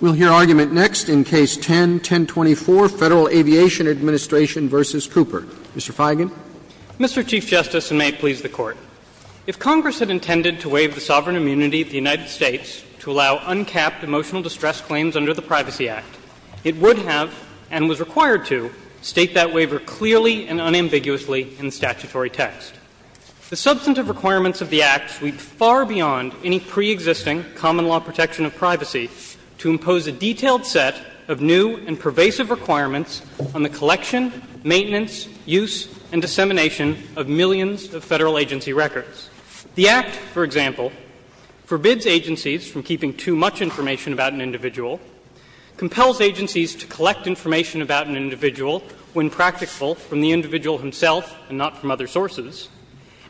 We'll hear argument next in Case 10-1024, Federal Aviation Administration v. Cooper. Mr. Feigin. Mr. Chief Justice, and may it please the Court, if Congress had intended to waive the sovereign immunity of the United States to allow uncapped emotional distress claims under the Privacy Act, it would have, and was required to, state that waiver clearly and unambiguously in statutory text. The substantive requirements of the Act sweep far beyond any preexisting common-law protection of privacy to impose a detailed set of new and pervasive requirements on the collection, maintenance, use, and dissemination of millions of Federal agency records. The Act, for example, forbids agencies from keeping too much information about an individual, compels agencies to collect information about an individual when practical from the individual himself and not from other sources,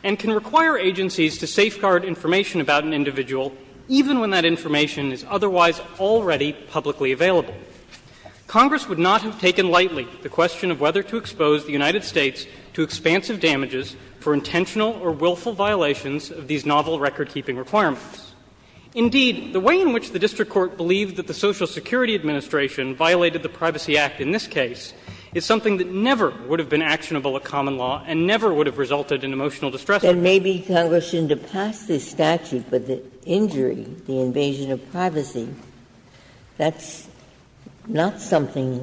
and can require agencies to safeguard information about an individual even when that information is otherwise already publicly available. Congress would not have taken lightly the question of whether to expose the United States to expansive damages for intentional or willful violations of these novel recordkeeping requirements. Indeed, the way in which the district court believed that the Social Security Administration violated the Privacy Act in this case is something that never would have been actionable at common law and never would have resulted in emotional distress. Ginsburg. And maybe Congress shouldn't have passed this statute, but the injury, the invasion of privacy, that's not something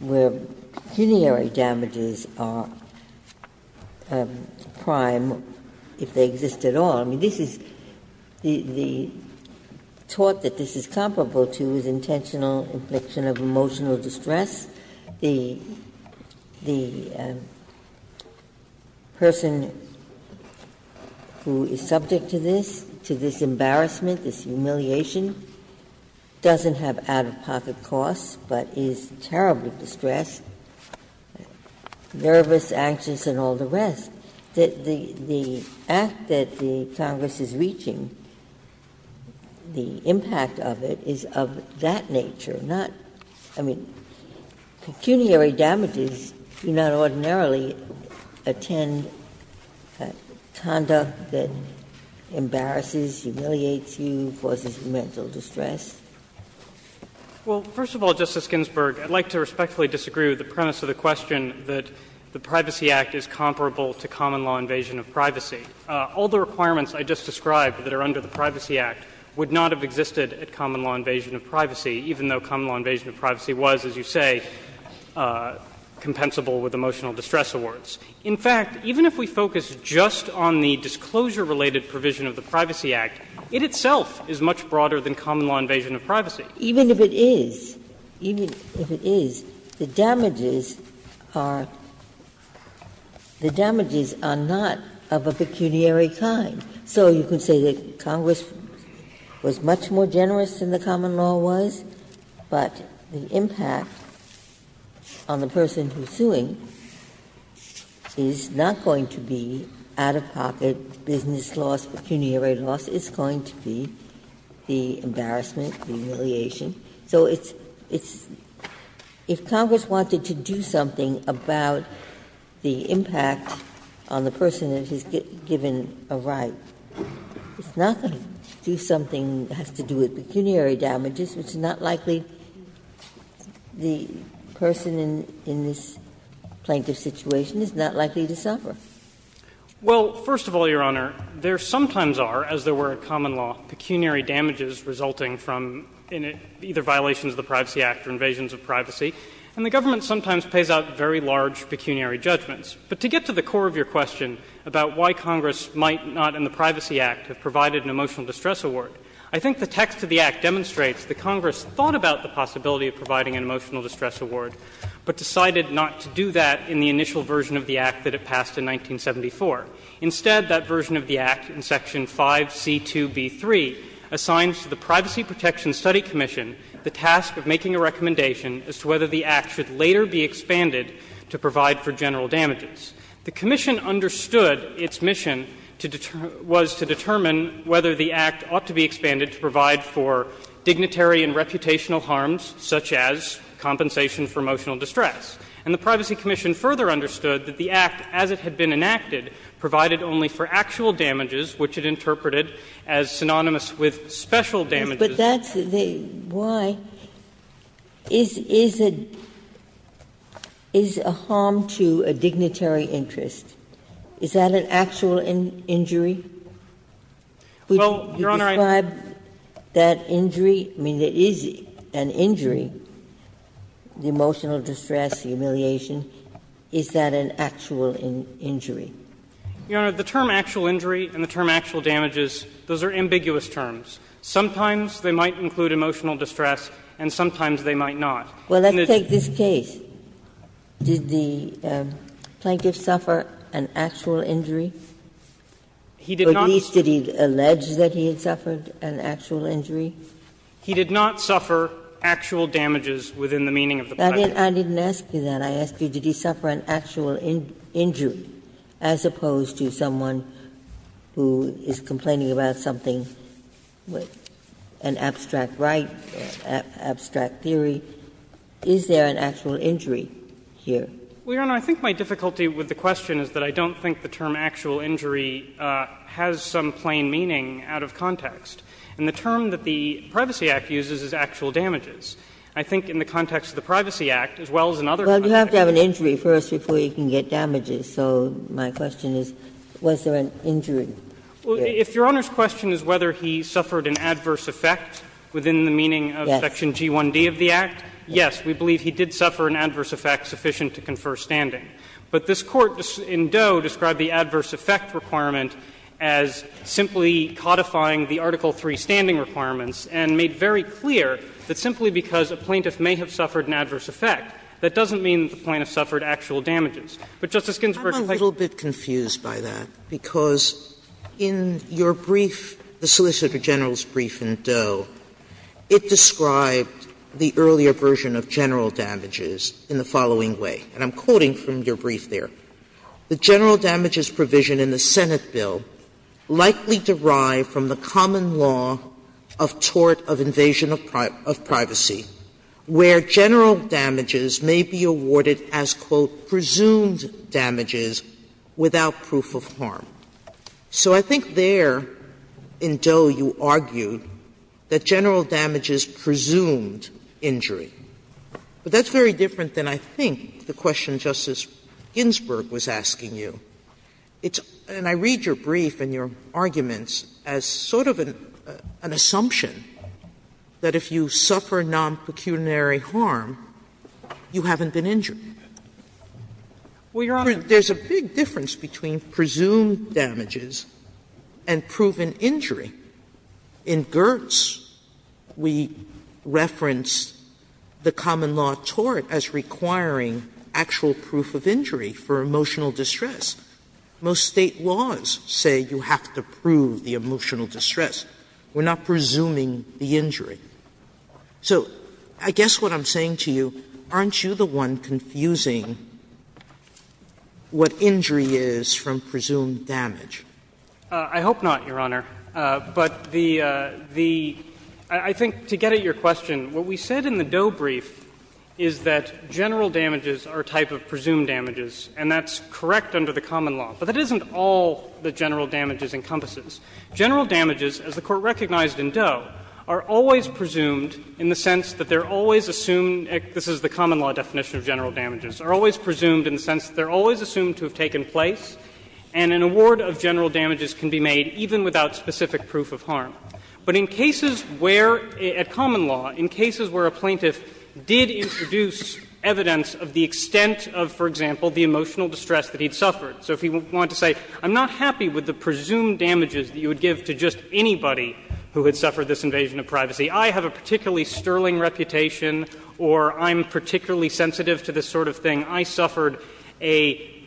where pecuniary damages are prime, if they exist at all. I mean, this is the thought that this is comparable to is intentional infliction of emotional distress. The person who is subject to this, to this embarrassment, this humiliation, doesn't have out-of-pocket costs, but is terribly distressed, nervous, anxious, and all the rest. The act that the Congress is reaching, the impact of it is of that nature, not, I mean, pecuniary damages do not ordinarily attend conduct that embarrasses, humiliates you, causes mental distress. Well, first of all, Justice Ginsburg, I'd like to respectfully disagree with the premise of the question that the Privacy Act is comparable to common law invasion of privacy. All the requirements I just described that are under the Privacy Act would not have been, as you say, compensable with emotional distress awards. In fact, even if we focus just on the disclosure-related provision of the Privacy Act, it itself is much broader than common law invasion of privacy. Even if it is, even if it is, the damages are not of a pecuniary kind. So you can say that Congress was much more generous than the common law was, but the impact on the person who's suing is not going to be out-of-pocket business loss, pecuniary loss. It's going to be the embarrassment, the humiliation. So it's, it's, if Congress wanted to do something about the impact on the person that has given a right, it's not going to do something that has to do with pecuniary damages, which is not likely the person in this plaintiff's situation is not likely to suffer. Well, first of all, Your Honor, there sometimes are, as there were in common law, pecuniary damages resulting from either violations of the Privacy Act or invasions of privacy, and the government sometimes pays out very large pecuniary judgments. But to get to the core of your question about why Congress might not in the Privacy I think the text of the Act demonstrates that Congress thought about the possibility of providing an emotional distress award, but decided not to do that in the initial version of the Act that it passed in 1974. Instead, that version of the Act in section 5C2B3 assigns to the Privacy Protection Study Commission the task of making a recommendation as to whether the Act should later be expanded to provide for general damages. The commission understood its mission was to determine whether the Act ought to be expanded to provide for dignitary and reputational harms such as compensation for emotional distress. And the Privacy Commission further understood that the Act, as it had been enacted, provided only for actual damages, which it interpreted as synonymous with special damages. Ginsburg. But that's the why. Is a harm to a dignitary interest, is that an actual injury? Would you describe that injury, I mean, there is an injury, the emotional distress, the humiliation, is that an actual injury? The term actual injury and the term actual damages, those are ambiguous terms. Sometimes they might include emotional distress, and sometimes they might not. And it's not. Ginsburg. Well, let's take this case. Did the plaintiff suffer an actual injury? Or at least did he allege that he had suffered an actual injury? He did not suffer actual damages within the meaning of the plaintiff. I didn't ask you that. I asked you, did he suffer an actual injury, as opposed to someone who is complaining about something, an abstract right, an abstract theory, is there an actual injury here? Well, Your Honor, I think my difficulty with the question is that I don't think the term actual injury has some plain meaning out of context. And the term that the Privacy Act uses is actual damages. I think in the context of the Privacy Act, as well as in other contexts. Well, you have to have an injury first before you can get damages. So my question is, was there an injury? Well, if Your Honor's question is whether he suffered an adverse effect within the meaning of Section G1d of the Act, yes, we believe he did suffer an adverse effect sufficient to confer standing. But this Court in Doe described the adverse effect requirement as simply codifying the Article III standing requirements and made very clear that simply because a plaintiff may have suffered an adverse effect, that doesn't mean the plaintiff suffered actual damages. But, Justice Ginsburg, I think that's not the case. Sotomayor, I'm a little bit confused by that, because in your brief, the Solicitor General's brief in Doe, it described the earlier version of general damages in the following way, and I'm quoting from your brief there. The general damages provision in the Senate bill likely derived from the common law of tort of invasion of privacy, where general damages may be awarded as, quote, presumed damages without proof of harm. So I think there, in Doe, you argued that general damages presumed injury. But that's very different than I think the question Justice Ginsburg was asking you. And I read your brief and your arguments as sort of an assumption that if you suffer non-pecuniary harm, you haven't been injured. Well, Your Honor, there's a big difference between presumed damages and proven injury. In Gertz, we reference the common law of tort as requiring actual proof of injury for emotional distress. Most State laws say you have to prove the emotional distress. We're not presuming the injury. So I guess what I'm saying to you, aren't you the one confusing what injury is from presumed damage? I hope not, Your Honor. But the the – I think to get at your question, what we said in the Doe brief is that general damages are a type of presumed damages, and that's correct under the common law. But that isn't all that general damages encompasses. General damages, as the Court recognized in Doe, are always presumed in the sense that they're always assumed – this is the common law definition of general damages – are always presumed in the sense that they're always assumed to have taken place, and an award of general damages can be made even without specific proof of harm. But in cases where, at common law, in cases where a plaintiff did introduce evidence of the extent of, for example, the emotional distress that he'd suffered, so if he wanted to say, I'm not happy with the presumed damages that you would give to just anybody who had suffered this invasion of privacy, I have a particularly sterling reputation, or I'm particularly sensitive to this sort of thing, I suffered a –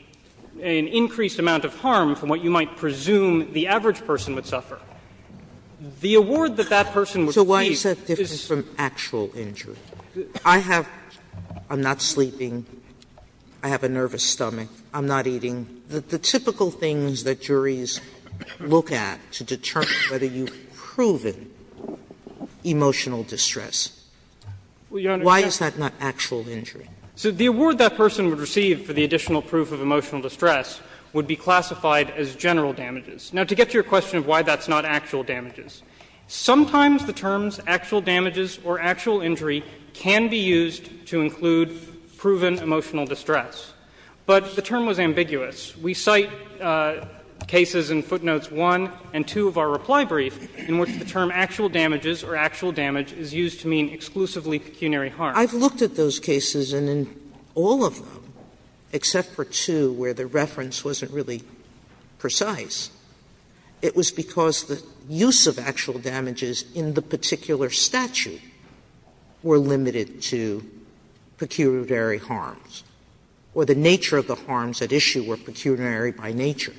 an increased amount of harm from what you might presume the average person would suffer, the award that that person would receive is a presumed damage. Sotomayor, so why is that different from actual injury? I have – I'm not sleeping. I have a nervous stomach. I'm not eating. The typical things that juries look at to determine whether you've proven emotional distress, why is that not actual injury? So the award that person would receive for the additional proof of emotional distress would be classified as general damages. Now, to get to your question of why that's not actual damages, sometimes the terms actual damages or actual injury can be used to include proven emotional distress. But the term was ambiguous. We cite cases in footnotes 1 and 2 of our reply brief in which the term actual damages or actual damage is used to mean exclusively pecuniary harm. Sotomayor, I've looked at those cases, and in all of them, except for two where the reference wasn't really precise, it was because the use of actual damages in the particular statute were limited to pecuniary harms. Or the nature of the harms at issue were pecuniary by nature.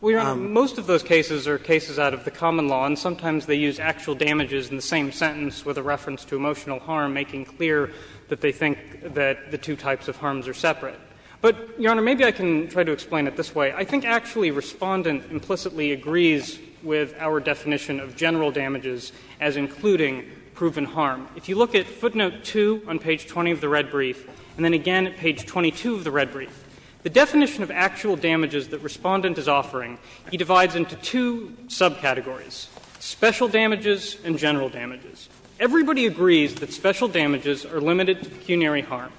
Well, Your Honor, most of those cases are cases out of the common law, and sometimes they use actual damages in the same sentence with a reference to emotional harm, making clear that they think that the two types of harms are separate. But, Your Honor, maybe I can try to explain it this way. I think actually Respondent implicitly agrees with our definition of general damages as including proven harm. If you look at footnote 2 on page 20 of the red brief, and then again at page 22 of the red brief, the definition of actual damages that Respondent is offering, he divides into two subcategories, special damages and general damages. Everybody agrees that special damages are limited to pecuniary harm.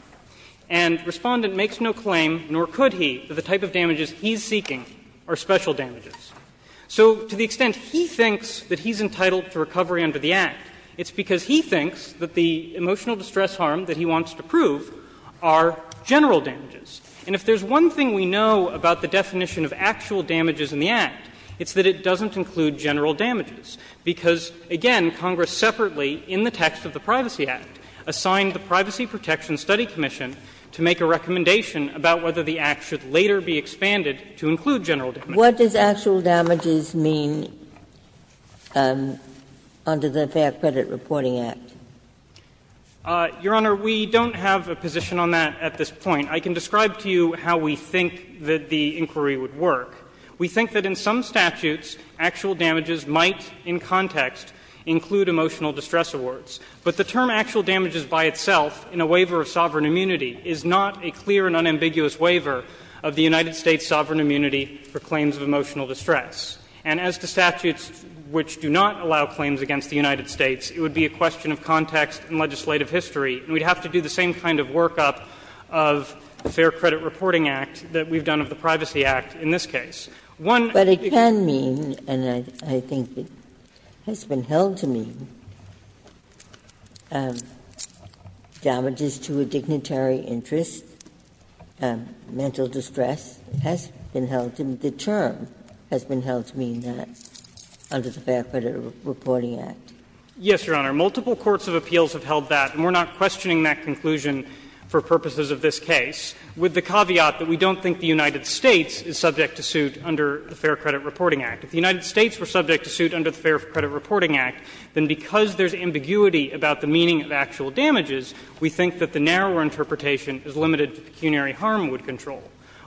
And Respondent makes no claim, nor could he, that the type of damages he's seeking are special damages. So to the extent he thinks that he's entitled to recovery under the Act, it's because he thinks that the emotional distress harm that he wants to prove are general damages. And if there's one thing we know about the definition of actual damages in the Act, it's that it doesn't include general damages, because, again, Congress separately, in the text of the Privacy Act, assigned the Privacy Protection Study Commission to make a recommendation about whether the Act should later be expanded to include general damages. Ginsburg. What does actual damages mean under the Fair Credit Reporting Act? Feigin. Your Honor, we don't have a position on that at this point. I can describe to you how we think that the inquiry would work. We think that in some statutes, actual damages might, in context, include emotional distress awards. But the term actual damages by itself, in a waiver of sovereign immunity, is not a clear and unambiguous waiver of the United States' sovereign immunity for claims of emotional distress. And as to statutes which do not allow claims against the United States, it would be a question of context and legislative history. And we'd have to do the same kind of workup of the Fair Credit Reporting Act that we've done of the Privacy Act in this case. One of the things that we can't do, and I think it has been held to mean, damages to a dignitary interest, mental distress, has been held to mean, the term has been held to mean that under the Fair Credit Reporting Act. Feigin. Yes, Your Honor. Multiple courts of appeals have held that, and we're not questioning that conclusion for purposes of this case, with the caveat that we don't think the United States is subject to suit under the Fair Credit Reporting Act. If the United States were subject to suit under the Fair Credit Reporting Act, then because there's ambiguity about the meaning of actual damages, we think that the narrower interpretation is limited to pecuniary harm we'd control.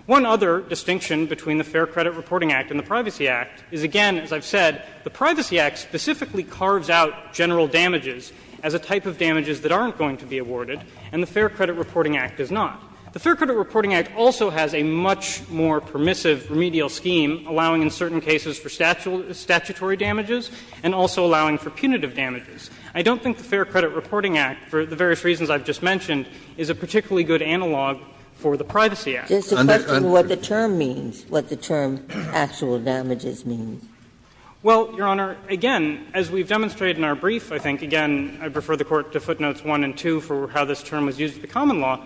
One other distinction between the Fair Credit Reporting Act and the Privacy Act is, again, as I've said, the Privacy Act specifically carves out general damages as a type of damages that aren't going to be awarded, and the Fair Credit Reporting Act does not. The Fair Credit Reporting Act also has a much more permissive remedial scheme, allowing in certain cases for statutory damages and also allowing for punitive damages. I don't think the Fair Credit Reporting Act, for the various reasons I've just mentioned, is a particularly good analog for the Privacy Act. Ginsburg. Just a question of what the term means, what the term actual damages means. Well, Your Honor, again, as we've demonstrated in our brief, I think, again, I'd prefer the Court to footnotes 1 and 2 for how this term was used in the common law,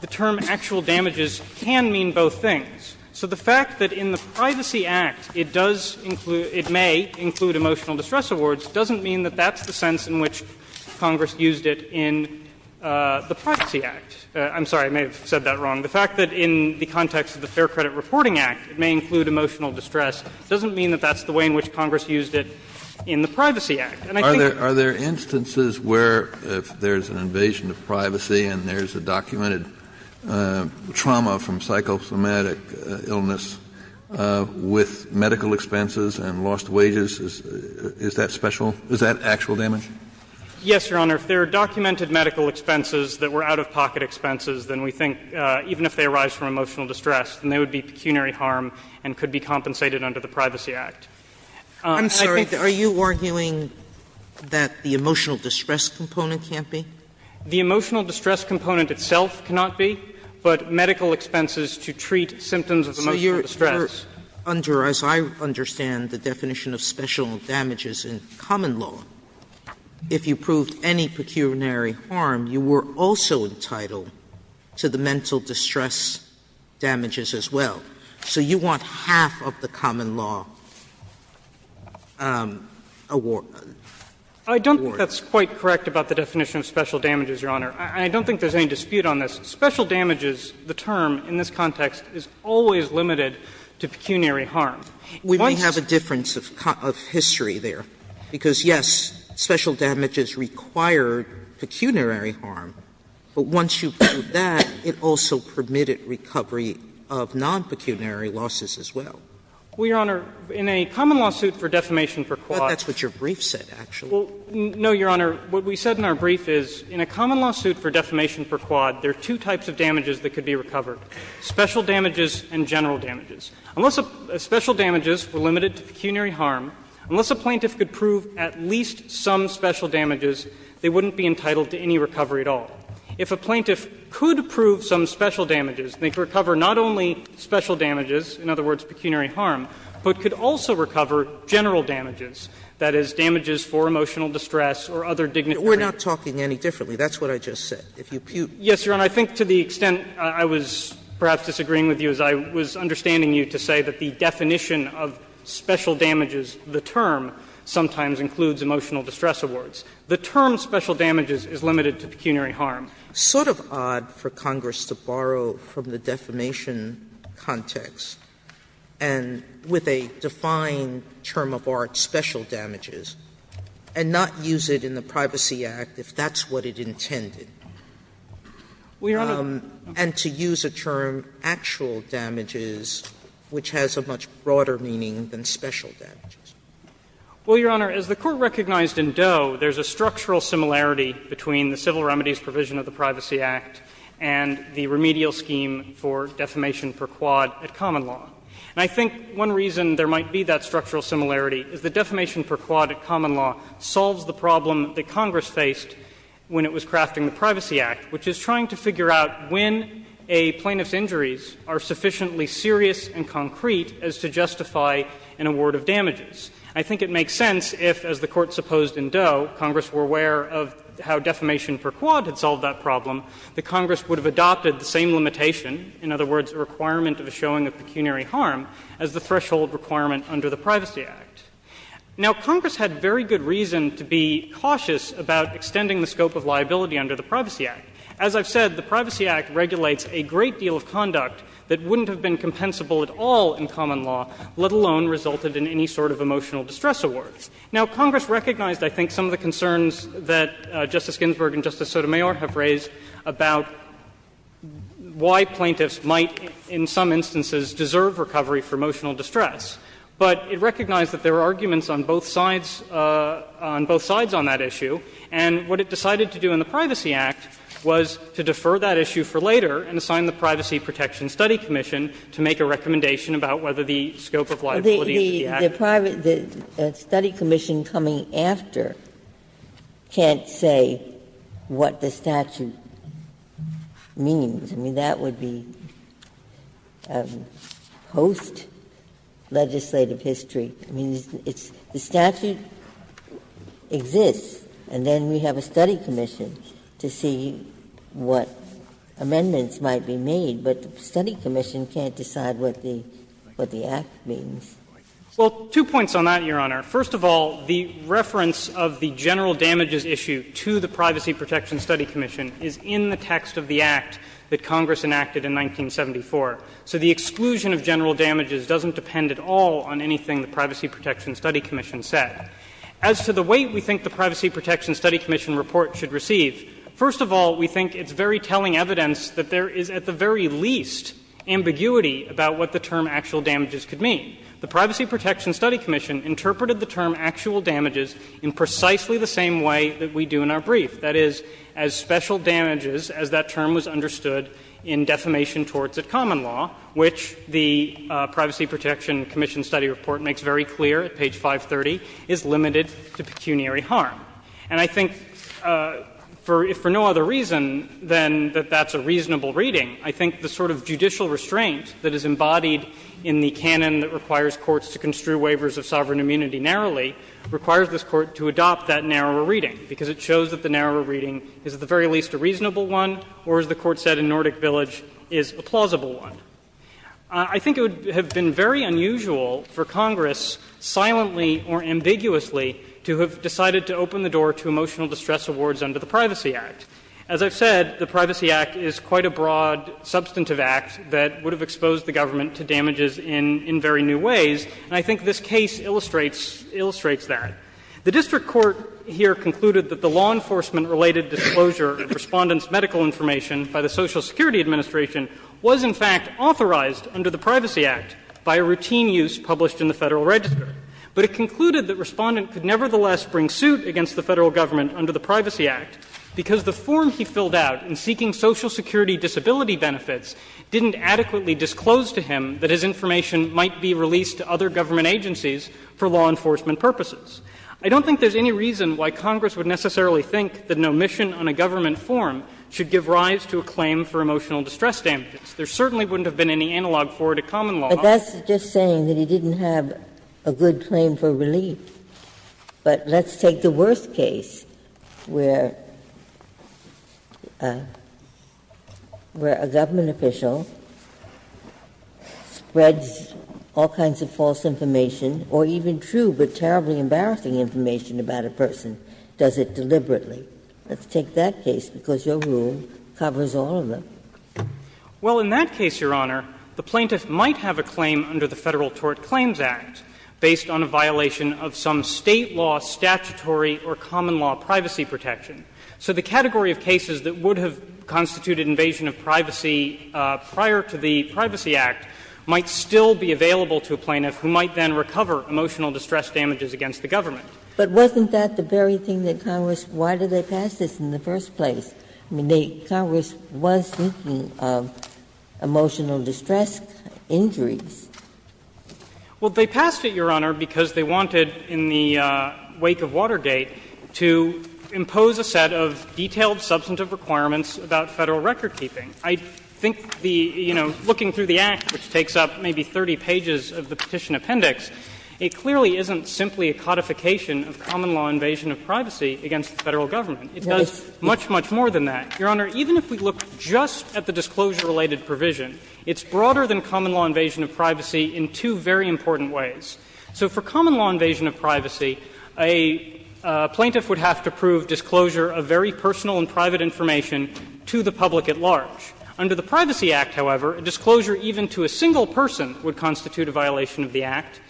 the term actual damages can mean both things. So the fact that in the Privacy Act it does include — it may include emotional distress awards doesn't mean that that's the sense in which Congress used it in the Privacy Act. I'm sorry, I may have said that wrong. The fact that in the context of the Fair Credit Reporting Act it may include emotional distress doesn't mean that that's the way in which Congress used it in the Privacy And I think that's the way in which Congress used it in the Privacy Act. Kennedy. Are there instances where if there's an invasion of privacy and there's a documented trauma from psychosomatic illness with medical expenses and lost wages, is that special? Is that actual damage? Yes, Your Honor. If there are documented medical expenses that were out-of-pocket expenses, then we think even if they arise from emotional distress, then they would be pecuniary harm and could be compensated under the Privacy Act. I'm sorry, are you arguing that the emotional distress component can't be? The emotional distress component itself cannot be, but medical expenses to treat symptoms of emotional distress. So you're under, as I understand the definition of special damages in common law, if you proved any pecuniary harm, you were also entitled to the mental distress damages as well. So you want half of the common law award. I don't think that's quite correct about the definition of special damages, Your Honor. And I don't think there's any dispute on this. Special damages, the term in this context, is always limited to pecuniary harm. Once you prove that, it also permitted recovery of non-pecuniary losses as well. Well, Your Honor, in a common lawsuit for defamation for cause. That's what your brief said, actually. Well, no, Your Honor. What we said in our brief is in a common lawsuit for defamation for cause, there are two types of damages that could be recovered, special damages and general damages. Unless special damages were limited to pecuniary harm, unless a plaintiff could prove at least some special damages, they wouldn't be entitled to any recovery at all. If a plaintiff could prove some special damages, they could recover not only special damages, in other words, pecuniary harm, but could also recover general damages. That is, damages for emotional distress or other dignitary. We're not talking any differently. That's what I just said. If you put. Yes, Your Honor. I think to the extent I was perhaps disagreeing with you is I was understanding you to say that the definition of special damages, the term, sometimes includes emotional distress awards. The term special damages is limited to pecuniary harm. It's sort of odd for Congress to borrow from the defamation context and with a defined term of art, special damages, and not use it in the Privacy Act if that's what it intended. And to use a term, actual damages, which has a much broader meaning than special damages. Well, Your Honor, as the Court recognized in Doe, there's a structural similarity between the civil remedies provision of the Privacy Act and the remedial scheme for defamation per quad at common law. And I think one reason there might be that structural similarity is that defamation per quad at common law solves the problem that Congress faced when it was crafting the Privacy Act, which is trying to figure out when a plaintiff's injuries are sufficiently serious and concrete as to justify an award of damages. I think it makes sense if, as the Court supposed in Doe, Congress were aware of how defamation per quad had solved that problem, that Congress would have adopted the same as the threshold requirement under the Privacy Act. Now, Congress had very good reason to be cautious about extending the scope of liability under the Privacy Act. As I've said, the Privacy Act regulates a great deal of conduct that wouldn't have been compensable at all in common law, let alone resulted in any sort of emotional distress awards. Now, Congress recognized, I think, some of the concerns that Justice Ginsburg and Justice Sotomayor have raised about why plaintiffs might, in some instances, deserve recovery for emotional distress. But it recognized that there were arguments on both sides, on both sides on that issue, and what it decided to do in the Privacy Act was to defer that issue for later and assign the Privacy Protection Study Commission to make a recommendation about whether the scope of liability under the Act. Ginsburg, the study commission coming after can't say what the statute means. I mean, that would be post-legislative history. I mean, it's the statute exists, and then we have a study commission to see what amendments might be made, but the study commission can't decide what the Act means. Well, two points on that, Your Honor. First of all, the reference of the general damages issue to the Privacy Protection Study Commission is in the text of the Act that Congress enacted in 1974. So the exclusion of general damages doesn't depend at all on anything the Privacy Protection Study Commission said. As to the weight we think the Privacy Protection Study Commission report should receive, first of all, we think it's very telling evidence that there is at the very least ambiguity about what the term actual damages could mean. The Privacy Protection Study Commission interpreted the term actual damages in precisely the same way that we do in our brief. That is, as special damages as that term was understood in defamation torts at common law, which the Privacy Protection Commission study report makes very clear at page 530, is limited to pecuniary harm. And I think for no other reason than that that's a reasonable reading, I think the sort of judicial restraint that is embodied in the canon that requires courts to construe waivers of sovereign immunity narrowly requires this Court to adopt that narrower reading, because it shows that the narrower reading is at the very least a reasonable one or, as the Court said in Nordic Village, is a plausible one. I think it would have been very unusual for Congress silently or ambiguously to have decided to open the door to emotional distress awards under the Privacy Act. As I've said, the Privacy Act is quite a broad substantive act that would have exposed the government to damages in very new ways, and I think this case illustrates that. The district court here concluded that the law enforcement-related disclosure of Respondent's medical information by the Social Security Administration was in fact authorized under the Privacy Act by a routine use published in the Federal Register. But it concluded that Respondent could nevertheless bring suit against the Federal Government under the Privacy Act because the form he filled out in seeking Social Security disability benefits didn't adequately disclose to him that his information might be released to other government agencies for law enforcement purposes. I don't think there's any reason why Congress would necessarily think that an omission on a government form should give rise to a claim for emotional distress damages. There certainly wouldn't have been any analog for it at common law. Ginsburg. But that's just saying that he didn't have a good claim for relief. But let's take the worst case where a government official spreads all kinds of false information, or even true but terribly embarrassing information about a person, does it deliberately. Let's take that case, because your rule covers all of them. Well, in that case, Your Honor, the plaintiff might have a claim under the Federal Tort Claims Act based on a violation of some State law statutory or common law privacy protection. So the category of cases that would have constituted invasion of privacy prior to the Privacy Act might still be available to a plaintiff who might then recover emotional distress damages against the government. But wasn't that the very thing that Congress, why did they pass this in the first place? I mean, Congress was thinking of emotional distress injuries. Well, they passed it, Your Honor, because they wanted, in the wake of Watergate, to impose a set of detailed substantive requirements about Federal recordkeeping. I think the, you know, looking through the Act, which takes up maybe 30 pages of the Petition Appendix, it clearly isn't simply a codification of common law invasion of privacy against the Federal government. It does much, much more than that. Your Honor, even if we look just at the disclosure-related provision, it's broader than common law invasion of privacy in two very important ways. So for common law invasion of privacy, a plaintiff would have to prove disclosure of very personal and private information to the public at large. Under the Privacy Act, however, a disclosure even to a single person would constitute a violation of the Act,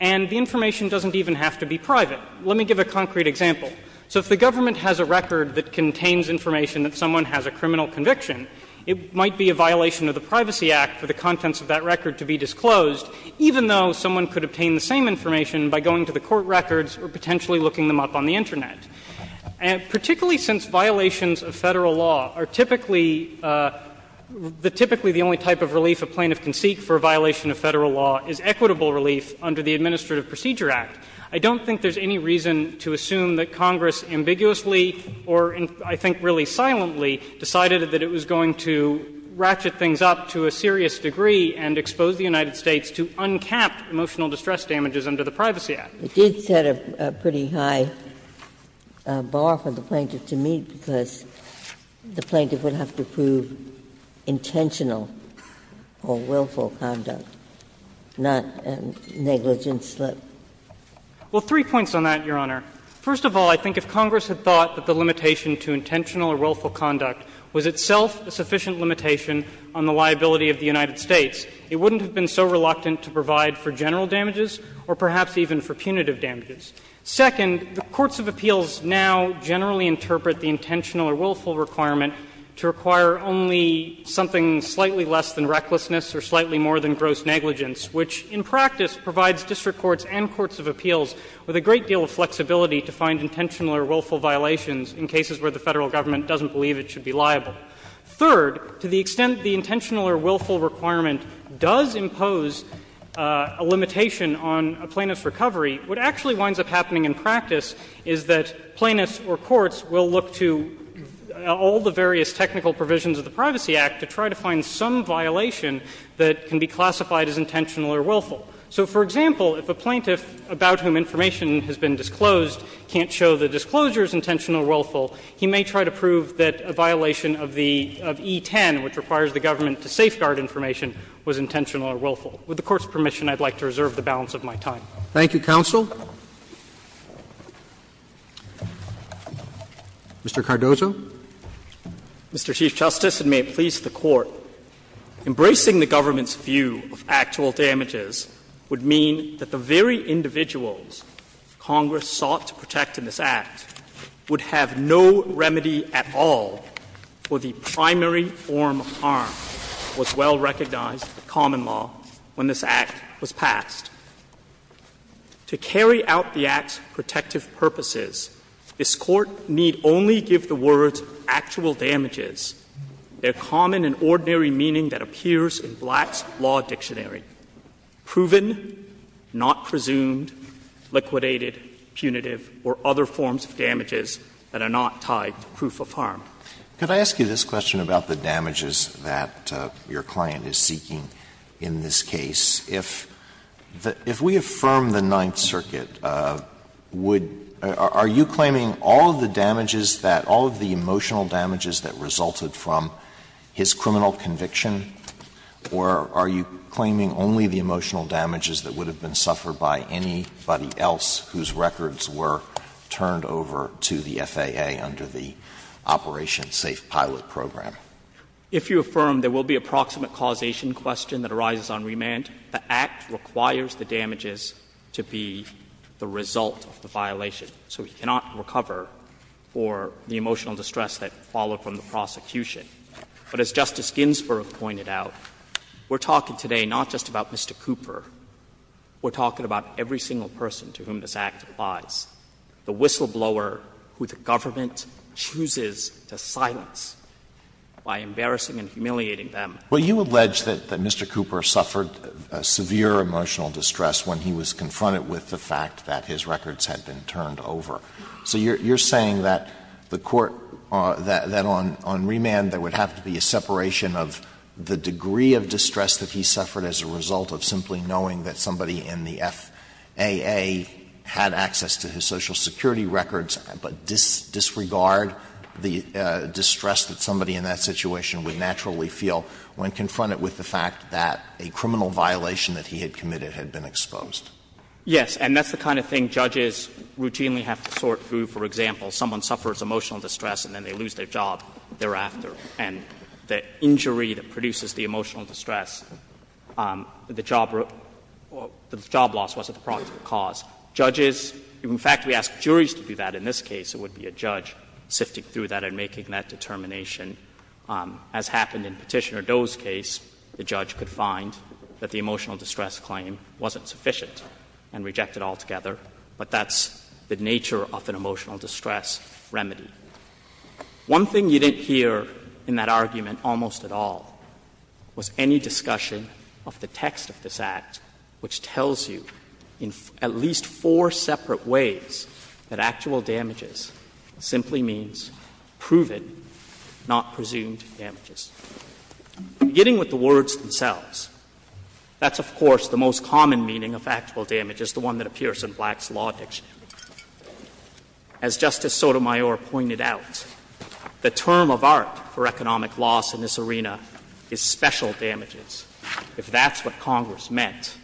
and the information doesn't even have to be private. Let me give a concrete example. So if the government has a record that contains information that someone has a criminal conviction, it might be a violation of the Privacy Act for the contents of that record to be disclosed, even though someone could obtain the same information by going to the court records or potentially looking them up on the Internet. And particularly since violations of Federal law are typically the only type of relief a plaintiff can seek for a violation of Federal law is equitable relief under the Administrative Procedure Act, I don't think there's any reason to assume that Congress ambiguously or I think really silently decided that it was going to ratchet things up to a serious degree and expose the United States to uncapped emotional distress damages under the Privacy Act. Ginsburg. It did set a pretty high bar for the plaintiff to meet because the plaintiff would have to prove intentional or willful conduct, not negligence, let's say. Well, three points on that, Your Honor. First of all, I think if Congress had thought that the limitation to intentional or willful conduct was itself a sufficient limitation on the liability of the United States, it wouldn't have been so reluctant to provide for general damages or perhaps even for punitive damages. Second, the courts of appeals now generally interpret the intentional or willful requirement to require only something slightly less than recklessness or slightly more than gross negligence, which in practice provides district courts and courts of appeals with a great deal of flexibility to find intentional or willful violations in cases where the Federal Government doesn't believe it should be liable. Third, to the extent the intentional or willful requirement does impose a limitation on a plaintiff's recovery, what actually winds up happening in practice is that plaintiffs or courts will look to all the various technical provisions of the Privacy Act to try to find some violation that can be classified as intentional or willful. So, for example, if a plaintiff about whom information has been disclosed can't show the disclosure as intentional or willful, he may try to prove that a violation of the — of E-10, which requires the government to safeguard information, was intentional or willful. With the Court's permission, I would like to reserve the balance of my time. Roberts. Thank you, counsel. Mr. Cardozo. Mr. Chief Justice, and may it please the Court, embracing the government's view of actual damages would mean that the very individuals Congress sought to protect in this Act would have no remedy at all for the primary form of harm that was well recognized in common law when this Act was passed. To carry out the Act's protective purposes, this Court need only give the word to the word, actual damages, their common and ordinary meaning that appears in Black's law dictionary, proven, not presumed, liquidated, punitive, or other forms of damages that are not tied to proof of harm. Could I ask you this question about the damages that your client is seeking in this case? If the — if we affirm the Ninth Circuit, would — are you claiming all of the damages that — all of the emotional damages that resulted from his criminal conviction, or are you claiming only the emotional damages that would have been suffered by anybody else whose records were turned over to the FAA under the Operation Safe Pilot Program? If you affirm there will be a proximate causation question that arises on remand, the Act requires the damages to be the result of the violation. So he cannot recover for the emotional distress that followed from the prosecution. But as Justice Ginsburg pointed out, we're talking today not just about Mr. Cooper. We're talking about every single person to whom this Act applies, the whistleblower who the government chooses to silence by embarrassing and humiliating them. Alito, you allege that Mr. Cooper suffered severe emotional distress when he was confronted with the fact that his records had been turned over. So you're saying that the court — that on remand there would have to be a separation of the degree of distress that he suffered as a result of simply knowing that somebody in the FAA had access to his Social Security records, but disregard the distress that somebody in that situation would naturally feel when confronted with the fact that a criminal violation that he had committed had been exposed? Yes. And that's the kind of thing judges routinely have to sort through. For example, someone suffers emotional distress and then they lose their job thereafter, and the injury that produces the emotional distress, the job — the job loss wasn't the proximate cause. Judges — in fact, we ask juries to do that in this case, it would be a judge sifting through that and making that determination. As happened in Petitioner Doe's case, the judge could find that the emotional distress was not the cause of the injury. He could reject it and reject it altogether, but that's the nature of an emotional distress remedy. One thing you didn't hear in that argument almost at all was any discussion of the text of this Act which tells you, in at least four separate ways, that actual damages simply means proven, not presumed, damages. Beginning with the words themselves, that's, of course, the most common meaning of actual damages, the one that appears in Black's law dictionary. As Justice Sotomayor pointed out, the term of art for economic loss in this arena is special damages. If that's what Congress meant,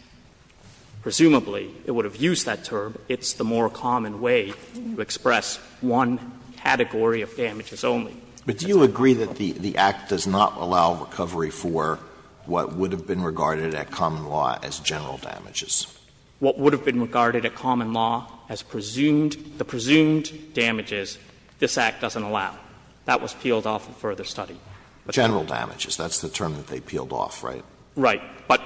presumably it would have used that term. It's the more common way to express one category of damages only. Alitoson But do you agree that the Act does not allow recovery for what would have been regarded at common law as general damages? Gannon What would have been regarded at common law as presumed, the presumed damages, this Act doesn't allow. That was peeled off in further study. Alitoson General damages, that's the term that they peeled off, right? Gannon Right. But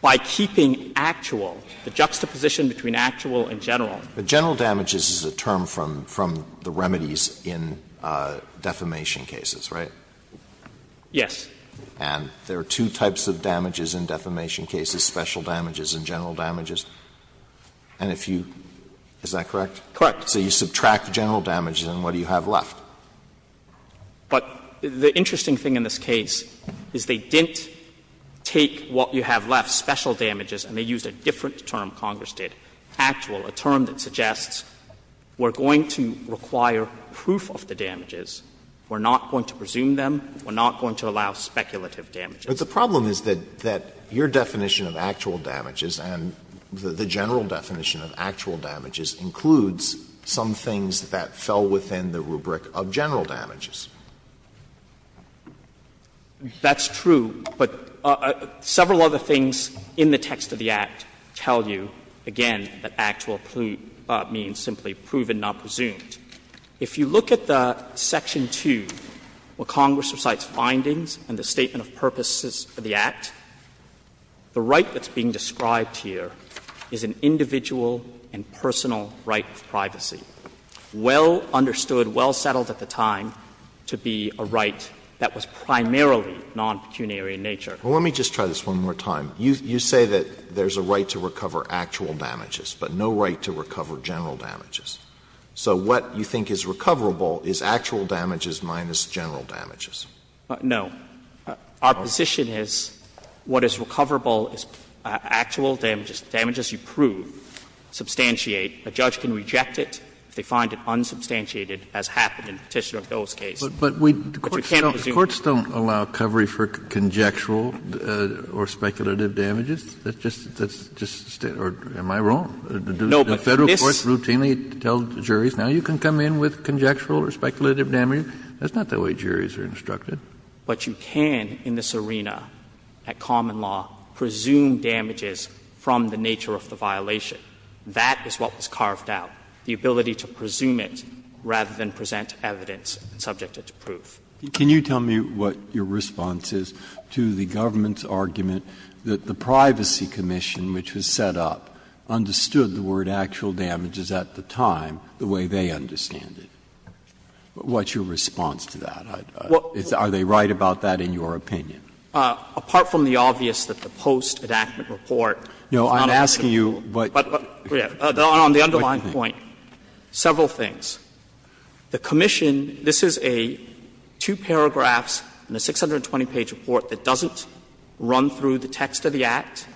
by keeping actual, the juxtaposition between actual and general. Alitoson But general damages is a term from the remedies in defamation cases, right? Gannon Yes. Alitoson And there are two types of damages in defamation cases, special damages and general damages. And if you — is that correct? Gannon Correct. Alitoson So you subtract general damages and what do you have left? Gannon But the interesting thing in this case is they didn't take what you have left, special damages, and they used a different term, Congress did, actual, a term that suggests we're going to require proof of the damages, we're not going to presume them, we're not going to allow speculative damages. Alitoson But the problem is that your definition of actual damages and the general definition of actual damages includes some things that fell within the rubric of general damages. Gannon That's true, but several other things in the text of the Act tell you, again, that actual means simply proven, not presumed. If you look at the Section 2, where Congress recites findings and the statement of purposes of the Act, the right that's being described here is an individual and personal right of privacy, well understood, well settled at the time to be a right that was primarily non-pecuniary in nature. Alitoson Well, let me just try this one more time. You say that there's a right to recover actual damages, but no right to recover general damages. So what you think is recoverable is actual damages minus general damages. Gannon No. Our position is what is recoverable is actual damages. The damages you prove, substantiate. A judge can reject it if they find it unsubstantiated, as happened in Petitioner O'Dohert's case. Kennedy But we don't, the courts don't allow covery for conjectural or speculative damages. That's just, that's just, am I wrong? The Federal courts routinely tell the juries, now you can come in with conjectural or speculative damages. That's not the way juries are instructed. Gannon But you can in this arena at common law presume damages from the nature of the violation. That is what was carved out, the ability to presume it rather than present evidence subject to proof. Breyer Can you tell me what your response is to the government's argument that the Privacy Commission, which was set up, understood the word actual damages at the time the way they understand it? What's your response to that? Are they right about that in your opinion? Gannon Apart from the obvious that the post-enactment report is not objective. Breyer No, I'm asking you what Gannon On the underlying point, several things. The commission, this is a two paragraphs and a 620 page report that doesn't run through the text of the Act,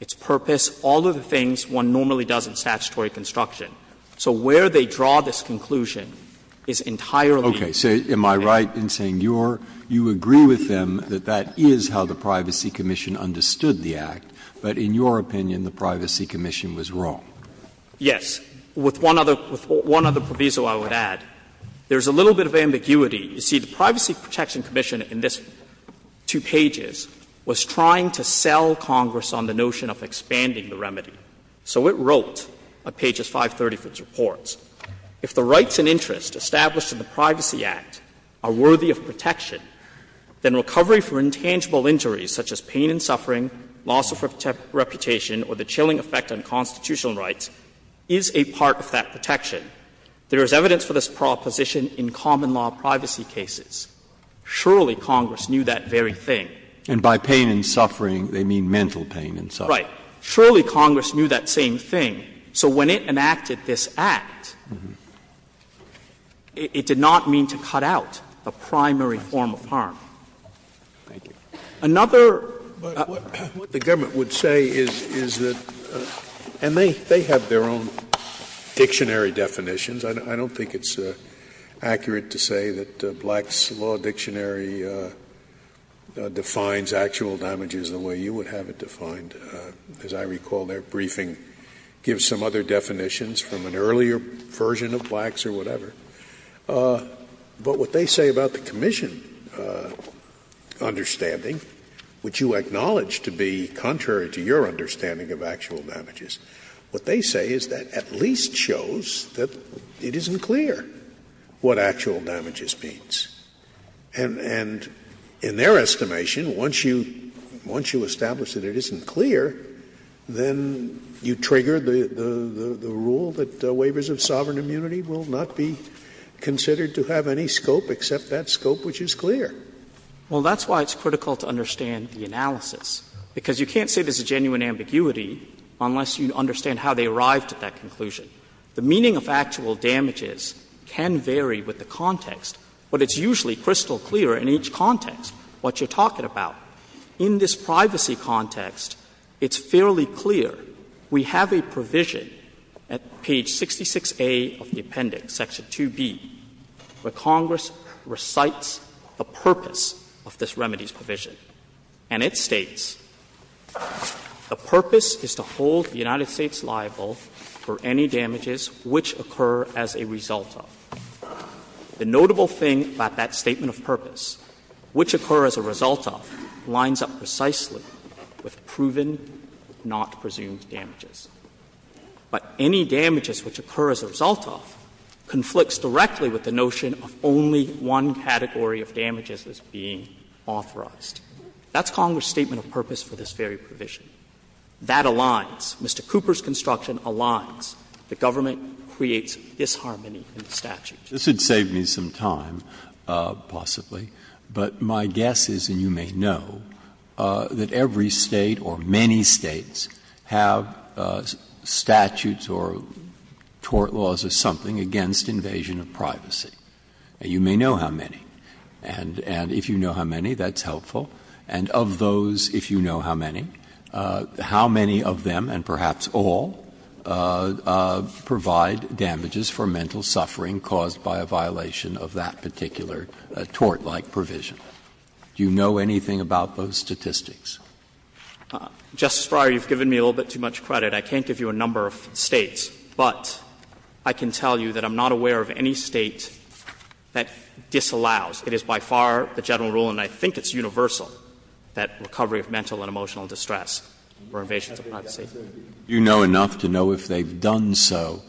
its purpose, all of the things one normally does in statutory construction. So where they draw this conclusion is entirely. Breyer Okay. So am I right in saying you're, you agree with them that that is how the Privacy Commission understood the Act, but in your opinion the Privacy Commission was wrong? Gannon Yes. With one other, with one other proviso I would add, there's a little bit of ambiguity. You see, the Privacy Protection Commission in this two pages was trying to sell Congress on the notion of expanding the remedy. So it wrote, on pages 530 of its report, if the rights and interests established in the Privacy Act are worthy of protection, then recovery for intangible injuries such as pain and suffering, loss of reputation, or the chilling effect on constitutional rights, is a part of that protection. There is evidence for this proposition in common law privacy cases. Surely Congress knew that very thing. Breyer And by pain and suffering, they mean mental pain and suffering. Gannon Right. Surely Congress knew that same thing. So when it enacted this Act, it did not mean to cut out a primary form of harm. Another. Scalia What the government would say is that, and they have their own dictionary definitions. I don't think it's accurate to say that Black's Law Dictionary defines actual damages the way you would have it defined. As I recall, their briefing gives some other definitions from an earlier version of Black's or whatever. But what they say about the commission understanding, which you acknowledge to be contrary to your understanding of actual damages, what they say is that at least shows that it isn't clear what actual damages means. And in their estimation, once you establish that it isn't clear, then you trigger the rule that waivers of sovereign immunity will not be considered to have any scope except that scope which is clear. Gannon Well, that's why it's critical to understand the analysis, because you can't say there's a genuine ambiguity unless you understand how they arrived at that conclusion. The meaning of actual damages can vary with the context, but it's usually crystal clear in each context what you're talking about. In this privacy context, it's fairly clear. We have a provision at page 66A of the appendix, section 2B, where Congress recites the purpose of this remedies provision. And it states, ''The purpose is to hold the United States liable for any damages which occur as a result of.'' The notable thing about that statement of purpose, which occur as a result of, lines up precisely with proven, not presumed damages. But any damages which occur as a result of conflicts directly with the notion of only one category of damages as being authorized. That's Congress' statement of purpose for this very provision. That aligns. Mr. Cooper's construction aligns. The government creates disharmony in the statute. This would save me some time, possibly, but my guess is, and you may know, that every State or many States have statutes or tort laws or something against invasion of privacy. You may know how many, and if you know how many, that's helpful. And of those, if you know how many, how many of them, and perhaps all, provide damages for mental suffering caused by a violation of that particular tort-like provision. Do you know anything about those statistics? Justice Breyer, you've given me a little bit too much credit. I can't give you a number of States, but I can tell you that I'm not aware of any State that disallows. It is by far the general rule, and I think it's universal, that recovery of mental and emotional distress for invasions of privacy. Do you know enough to know if they've done so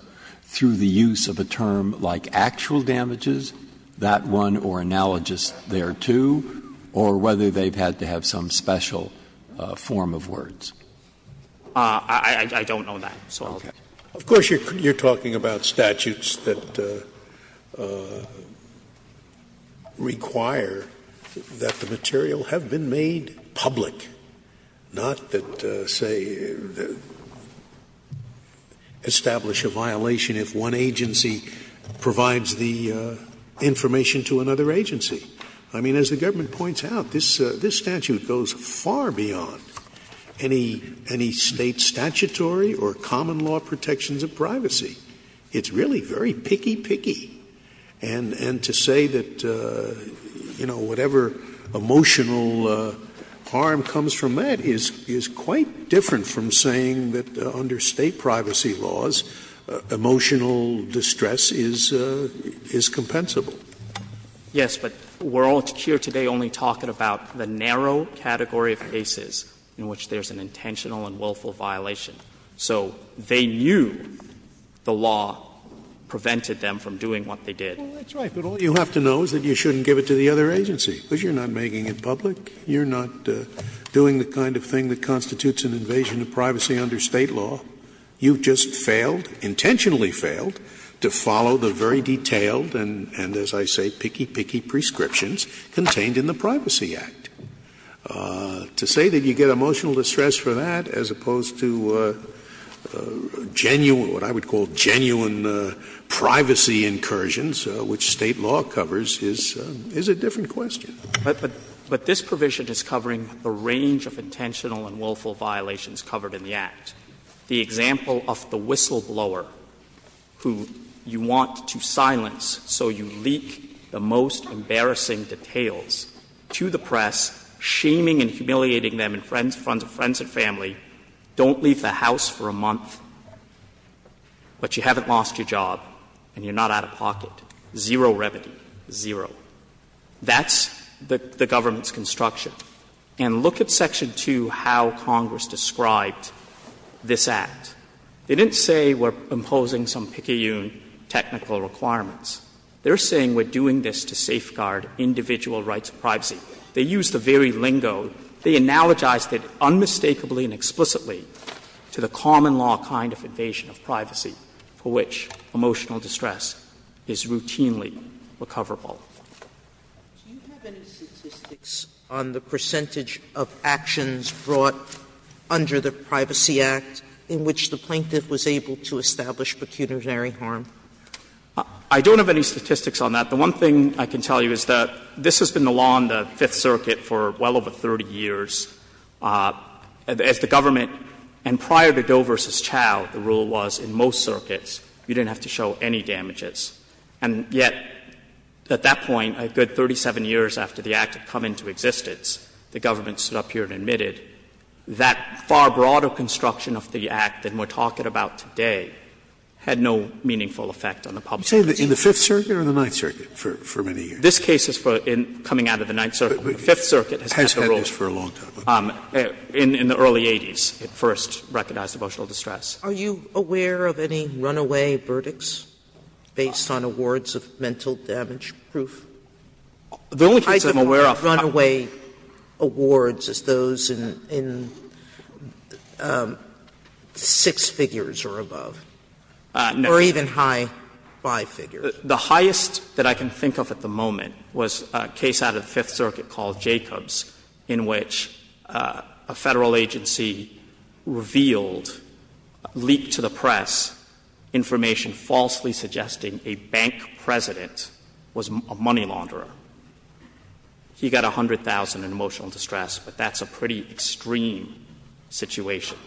through the use of a term like actual damages, that one, or analogous thereto, or whether they've had to have some special form of words? I don't know that, so I'll let you know. Of course, you're talking about statutes that require that the material have been made public, not that, say, establish a violation if one agency provides the information to another agency. I mean, as the government points out, this statute goes far beyond any State statutory or common law protections of privacy. It's really very picky, picky. And to say that, you know, whatever emotional harm comes from that is quite different from saying that under State privacy laws, emotional distress is compensable. Yes, but we're all here today only talking about the narrow category of cases in which there's an intentional and willful violation. So they knew the law prevented them from doing what they did. Scalia Well, that's right, but all you have to know is that you shouldn't give it to the other agency, because you're not making it public, you're not doing the kind of thing that constitutes an invasion of privacy under State law. You've just failed, intentionally failed, to follow the very detailed and, as I say, picky, picky prescriptions contained in the Privacy Act. To say that you get emotional distress for that as opposed to genuine, what I would call genuine privacy incursions, which State law covers, is a different question. Yang But this provision is covering a range of intentional and willful violations covered in the Act. The example of the whistleblower, who you want to silence so you leak the most embarrassing details to the press, shaming and humiliating them in front of friends and family, don't leave the house for a month, but you haven't lost your job and you're not out of pocket, zero remedy, zero. That's the government's construction. And look at Section 2, how Congress described this Act. They didn't say we're imposing some picayune technical requirements. They're saying we're doing this to safeguard individual rights of privacy. They used the very lingo. They analogized it unmistakably and explicitly to the common law kind of invasion of privacy for which emotional distress is routinely recoverable. Sotomayor Do you have any statistics on the percentage of actions brought under the Privacy Act in which the plaintiff was able to establish pecuniary harm? I don't have any statistics on that. The one thing I can tell you is that this has been the law in the Fifth Circuit for well over 30 years. As the government, and prior to Doe v. Chau, the rule was in most circuits you didn't have to show any damages. And yet, at that point, a good 37 years after the Act had come into existence, the government stood up here and admitted that far broader construction of the Act than we're talking about today had no meaningful effect on the public. Sotomayor You're saying in the Fifth Circuit or the Ninth Circuit for many years? This case is for coming out of the Ninth Circuit, but the Fifth Circuit has had the rule. It has had this for a long time. In the early 80s, it first recognized emotional distress. Are you aware of any runaway verdicts based on awards of mental damage proof? The only case I'm aware of, I don't know. Sotomayor In six figures or above. Or even high five figures. The highest that I can think of at the moment was a case out of the Fifth Circuit called Jacobs, in which a Federal agency revealed, leaked to the press, information falsely suggesting a bank president was a money launderer. He got 100,000 in emotional distress, but that's a pretty extreme situation.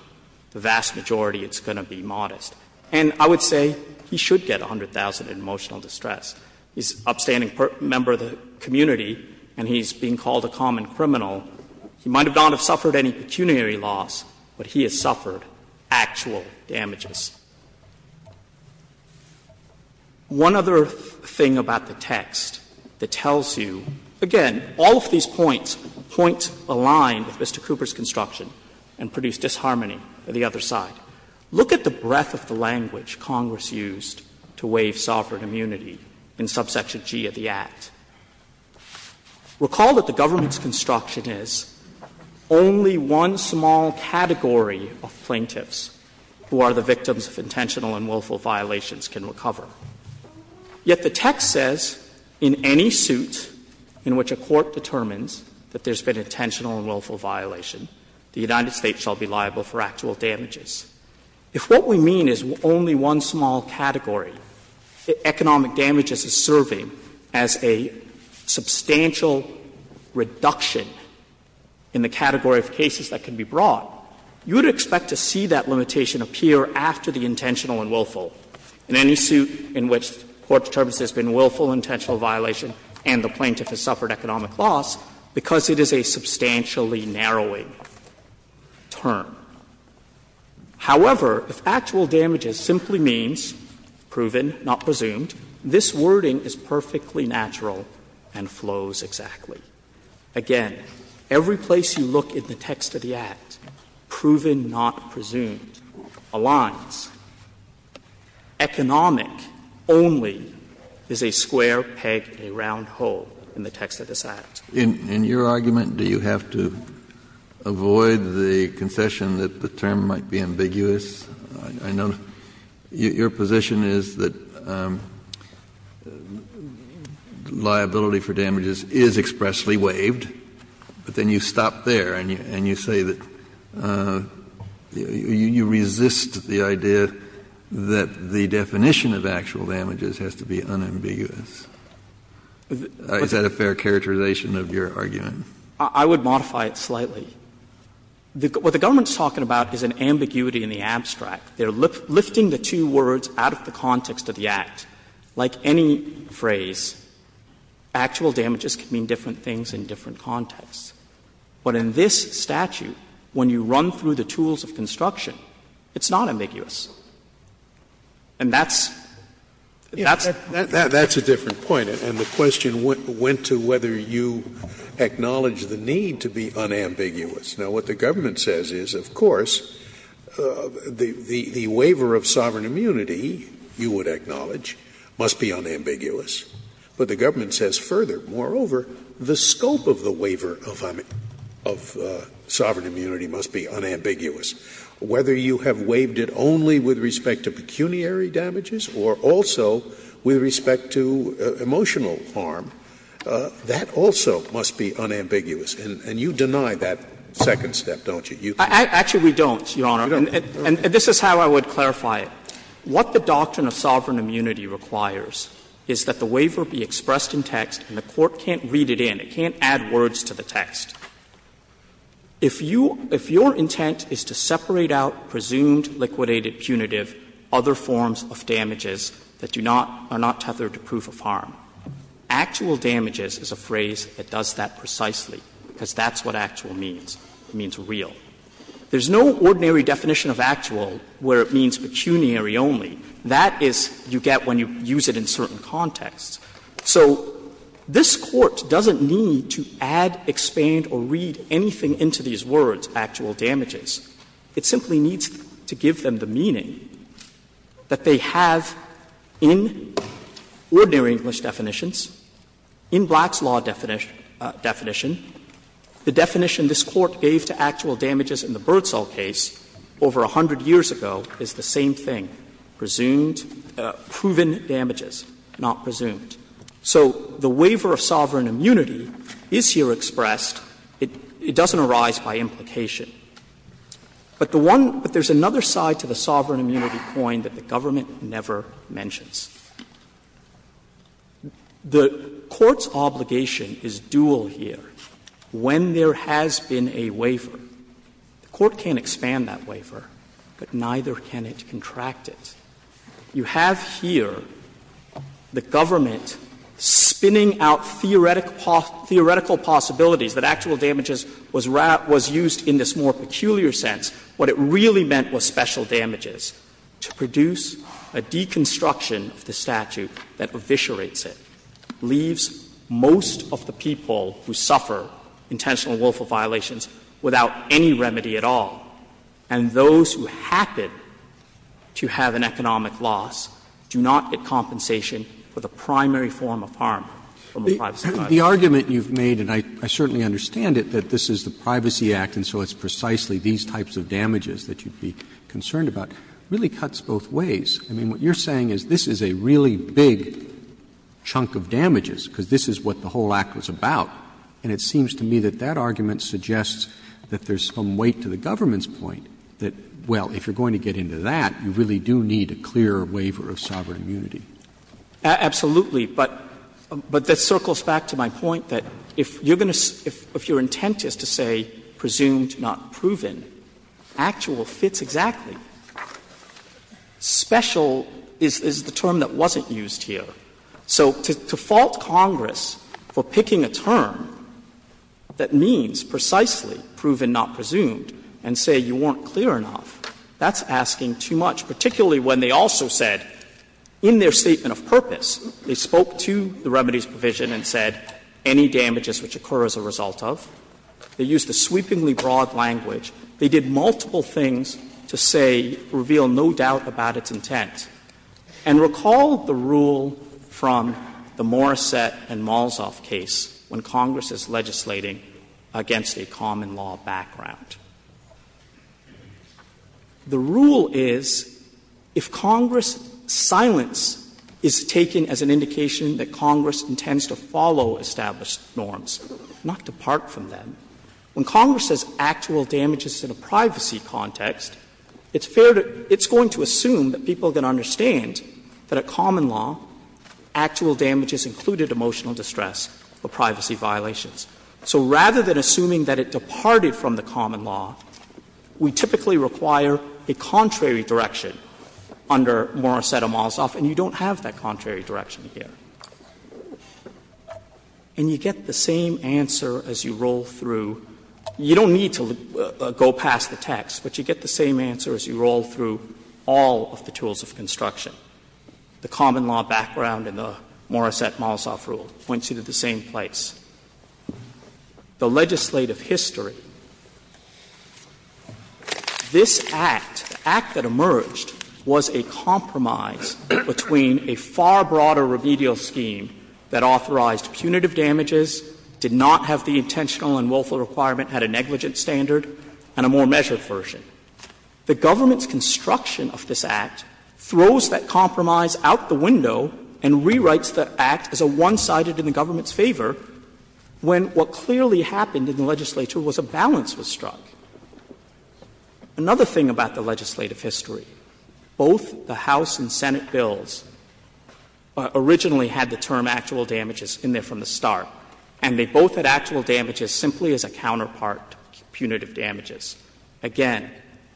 The vast majority, it's going to be modest. And I would say he should get 100,000 in emotional distress. He's an upstanding member of the community and he's being called a common criminal. He might not have suffered any pecuniary loss, but he has suffered actual damages. One other thing about the text that tells you, again, all of these points, points align with Mr. Cooper's construction and produce disharmony on the other side. Look at the breadth of the language Congress used to waive sovereign immunity in subsection G of the Act. Recall that the government's construction is only one small category of plaintiffs who are the victims of intentional and willful violations can recover. Yet the text says, in any suit in which a court determines that there's been an intentional and willful violation, the United States shall be liable for actual damages. If what we mean is only one small category, economic damages is serving as a substantial reduction in the category of cases that can be brought, you would expect to see that limitation appear after the intentional and willful, in any suit in which the court determines there's been willful intentional violation and the plaintiff has suffered economic loss because it is a substantially narrowing term. However, if actual damages simply means proven, not presumed, this wording is perfectly natural and flows exactly. Again, every place you look in the text of the Act, proven, not presumed, aligns. Economic only is a square peg in a round hole in the text of this Act. Kennedy, in your argument, do you have to avoid the concession that the term might be ambiguous? I know your position is that liability for damages is expressly waived, but then you stop there and you say that you resist the idea that the definition of actual damages has to be unambiguous. Is that a fair characterization of your argument? I would modify it slightly. What the government is talking about is an ambiguity in the abstract. They are lifting the two words out of the context of the Act. Like any phrase, actual damages can mean different things in different contexts. But in this statute, when you run through the tools of construction, it's not ambiguous. And that's — That's a different point. And the question went to whether you acknowledge the need to be unambiguous. Now, what the government says is, of course, the waiver of sovereign immunity, you would acknowledge, must be unambiguous. But the government says further, moreover, the scope of the waiver of sovereign immunity must be unambiguous. Whether you have waived it only with respect to pecuniary damages or also with respect to emotional harm, that also must be unambiguous. And you deny that second step, don't you? Actually, we don't, Your Honor. And this is how I would clarify it. What the doctrine of sovereign immunity requires is that the waiver be expressed in text and the court can't read it in. It can't add words to the text. If you — if your intent is to separate out presumed, liquidated, punitive, other forms of damages that do not — are not tethered to proof of harm, actual damages is a phrase that does that precisely, because that's what actual means. It means real. There's no ordinary definition of actual where it means pecuniary only. That is, you get when you use it in certain contexts. So this Court doesn't need to add, expand, or read anything into these words, actual damages. It simply needs to give them the meaning that they have in ordinary English definitions, in Black's law definition, the definition this Court gave to actual damages in the Birdsall case over a hundred years ago is the same thing, presumed, proven damages, not presumed. So the waiver of sovereign immunity is here expressed. It doesn't arise by implication. But the one — but there's another side to the sovereign immunity coin that the government never mentions. The Court's obligation is dual here. When there has been a waiver, the Court can't expand that waiver, but neither can it contract it. You have here the government spinning out theoretical possibilities that actual damages was used in this more peculiar sense. What it really meant was special damages. To produce a deconstruction of the statute that eviscerates it leaves most of the people who suffer intentional and willful violations without any remedy at all. And those who happen to have an economic loss do not get compensation for the primary form of harm from a privacy violation. Roberts The argument you've made, and I certainly understand it, that this is the Privacy Act and so it's precisely these types of damages that you'd be concerned about, really cuts both ways. I mean, what you're saying is this is a really big chunk of damages because this is what the whole Act was about. And it seems to me that that argument suggests that there's some weight to the government's point that, well, if you're going to get into that, you really do need a clear waiver of sovereign immunity. Gershengorn Absolutely. But that circles back to my point that if you're going to — if your intent is to say presumed, not proven, actual fits exactly. Special is the term that wasn't used here. So to fault Congress for picking a term that means precisely proven, not presumed and say you weren't clear enough, that's asking too much, particularly when they also said, in their statement of purpose, they spoke to the remedies provision and said any damages which occur as a result of. They used a sweepingly broad language. They did multiple things to say, reveal no doubt about its intent. And recall the rule from the Morrissette and Malzoff case when Congress is legislating against a common law background. The rule is, if Congress' silence is taken as an indication that Congress intends to follow established norms, not depart from them, when Congress says actual damages in a privacy context, it's fair to — it's going to assume that people can understand that a common law, actual damages included emotional distress or privacy violations. So rather than assuming that it departed from the common law, we typically require a contrary direction under Morrissette and Malzoff, and you don't have that contrary direction here. And you get the same answer as you roll through. You don't need to go past the text, but you get the same answer as you roll through all of the tools of construction. The common law background in the Morrissette-Malzoff rule points you to the same place. The legislative history. This Act, the Act that emerged, was a compromise between a far broader remedial scheme that authorized punitive damages, did not have the intentional and willful requirement, had a negligent standard, and a more measured version. The government's construction of this Act throws that compromise out the window and rewrites the Act as a one-sided in the government's favor, when what clearly happened in the legislature was a balance was struck. Another thing about the legislative history, both the House and Senate bills originally had the term actual damages in there from the start, and they both had actual damages simply as a counterpart to punitive damages. Again,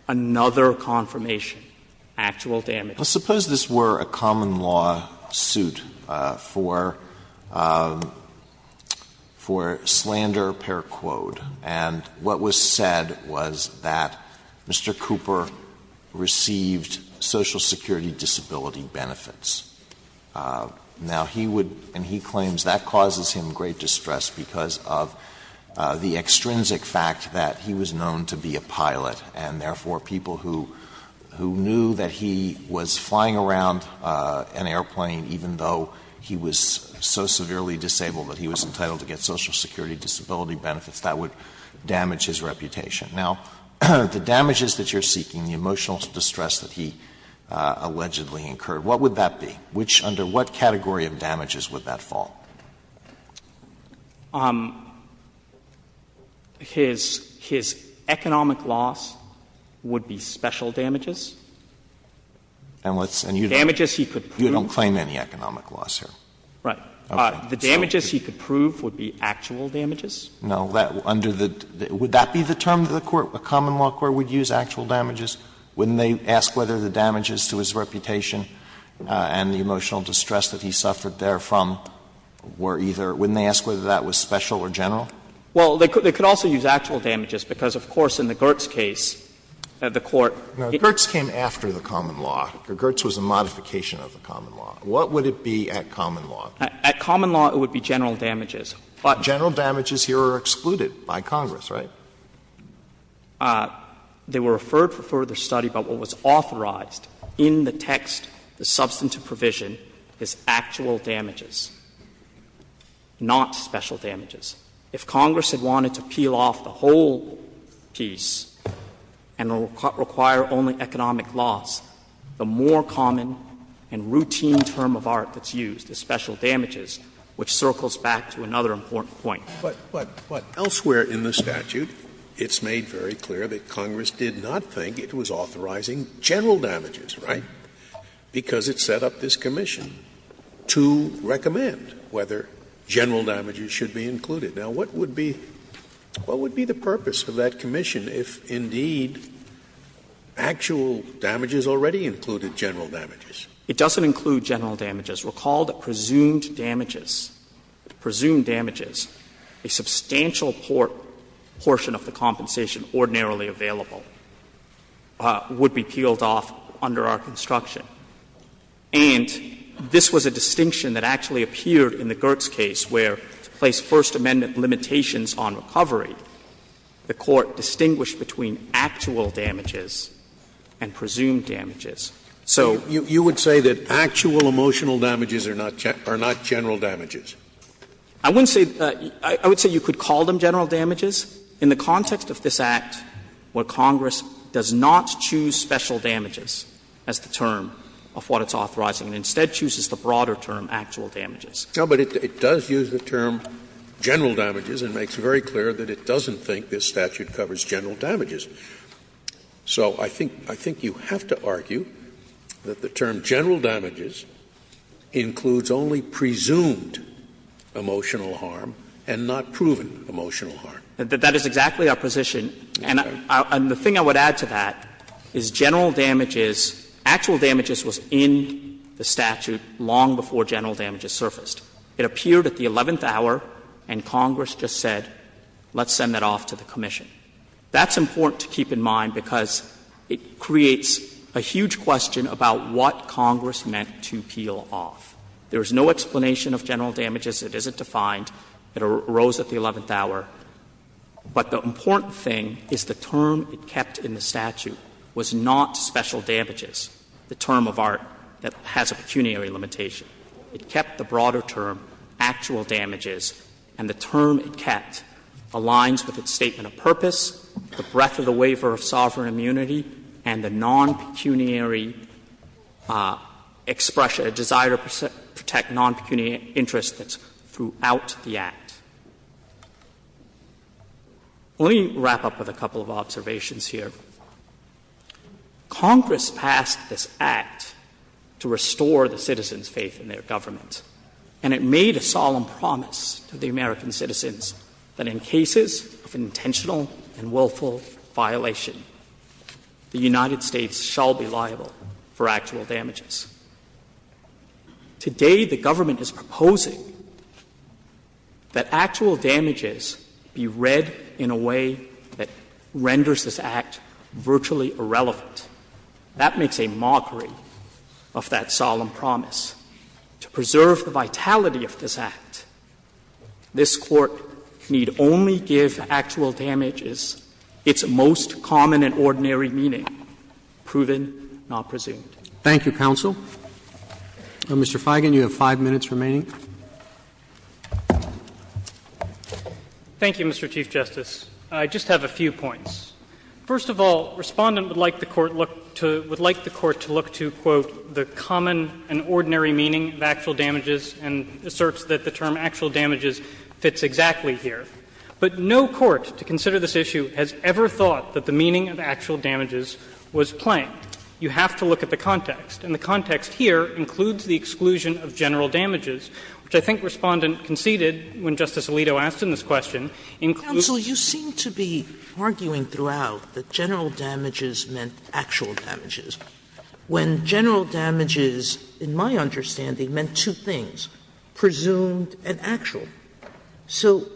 another confirmation, actual damages. Let's suppose this were a common law suit for — for slander per quote, and what was said was that Mr. Cooper received Social Security disability benefits. Now, he would — and he claims that causes him great distress because of the extrinsic fact that he was known to be a pilot, and therefore people who — who knew that he was flying around an airplane even though he was so severely disabled that he was entitled to get Social Security disability benefits, that would damage his reputation. Now, the damages that you're seeking, the emotional distress that he allegedly incurred, what would that be? Which — under what category of damages would that fall? His — his economic loss would be special damages. Damages he could prove. Alito, you don't claim any economic loss here. Right. The damages he could prove would be actual damages. No. Under the — would that be the term that the court, a common law court, would use, actual damages? Wouldn't they ask whether the damages to his reputation and the emotional distress that he suffered therefrom were either — wouldn't they ask whether that was special or general? Well, they could also use actual damages, because, of course, in the Gertz case, the court — Now, Gertz came after the common law. Gertz was a modification of the common law. What would it be at common law? At common law, it would be general damages, but — General damages here are excluded by Congress, right? They were referred for further study, but what was authorized in the text, the substantive provision, is actual damages, not special damages. If Congress had wanted to peel off the whole piece and require only economic loss, the more common and routine term of art that's used is special damages, which circles back to another important point. But elsewhere in the statute, it's made very clear that Congress did not think it was authorizing general damages, right? Because it set up this commission to recommend whether general damages should be included. Now, what would be — what would be the purpose of that commission if, indeed, actual damages already included general damages? It doesn't include general damages. Recall that presumed damages, presumed damages, a substantial portion of the compensation ordinarily available, would be peeled off under our construction. And this was a distinction that actually appeared in the Gertz case, where to place First Amendment limitations on recovery, the Court distinguished between actual damages and presumed damages. So you would say that actual emotional damages are not general damages? I wouldn't say — I would say you could call them general damages in the context of this Act, where Congress does not choose special damages as the term of what it's authorizing, and instead chooses the broader term, actual damages. No, but it does use the term general damages, and makes it very clear that it doesn't think this statute covers general damages. So I think — I think you have to argue that the term general damages includes only presumed emotional harm and not proven emotional harm. That is exactly our position. And the thing I would add to that is general damages, actual damages was in the statute long before general damages surfaced. It appeared at the eleventh hour, and Congress just said, let's send that off to the commission. That's important to keep in mind, because it creates a huge question about what Congress meant to peel off. There is no explanation of general damages. It isn't defined. It arose at the eleventh hour. But the important thing is the term it kept in the statute was not special damages, the term of art that has a pecuniary limitation. It kept the broader term, actual damages, and the term it kept aligns with its statement of purpose, the breadth of the waiver of sovereign immunity, and the non-pecuniary expression, a desire to protect non-pecuniary interests that's throughout the Act. Let me wrap up with a couple of observations here. Congress passed this Act to restore the citizens' faith in their government. And it made a solemn promise to the American citizens that in cases of intentional and willful violation, the United States shall be liable for actual damages. Today, the government is proposing that actual damages be read in a way that renders this Act virtually irrelevant. That makes a mockery of that solemn promise. To preserve the vitality of this Act, this Court need only give actual damages its most common and ordinary meaning, proven, not presumed. Roberts. Thank you, counsel. Mr. Feigin, you have 5 minutes remaining. Feigin. Thank you, Mr. Chief Justice. I just have a few points. First of all, Respondent would like the Court to look to, quote, the common and ordinary meaning of actual damages and asserts that the term actual damages fits exactly here. But no court to consider this issue has ever thought that the meaning of actual damages was plain. You have to look at the context, and the context here includes the exclusion of general damages, which I think Respondent conceded when Justice Alito asked in this question, includes. Sotomayor, you seem to be arguing throughout that general damages meant actual damages. When general damages, in my understanding, meant two things, presumed and actual. So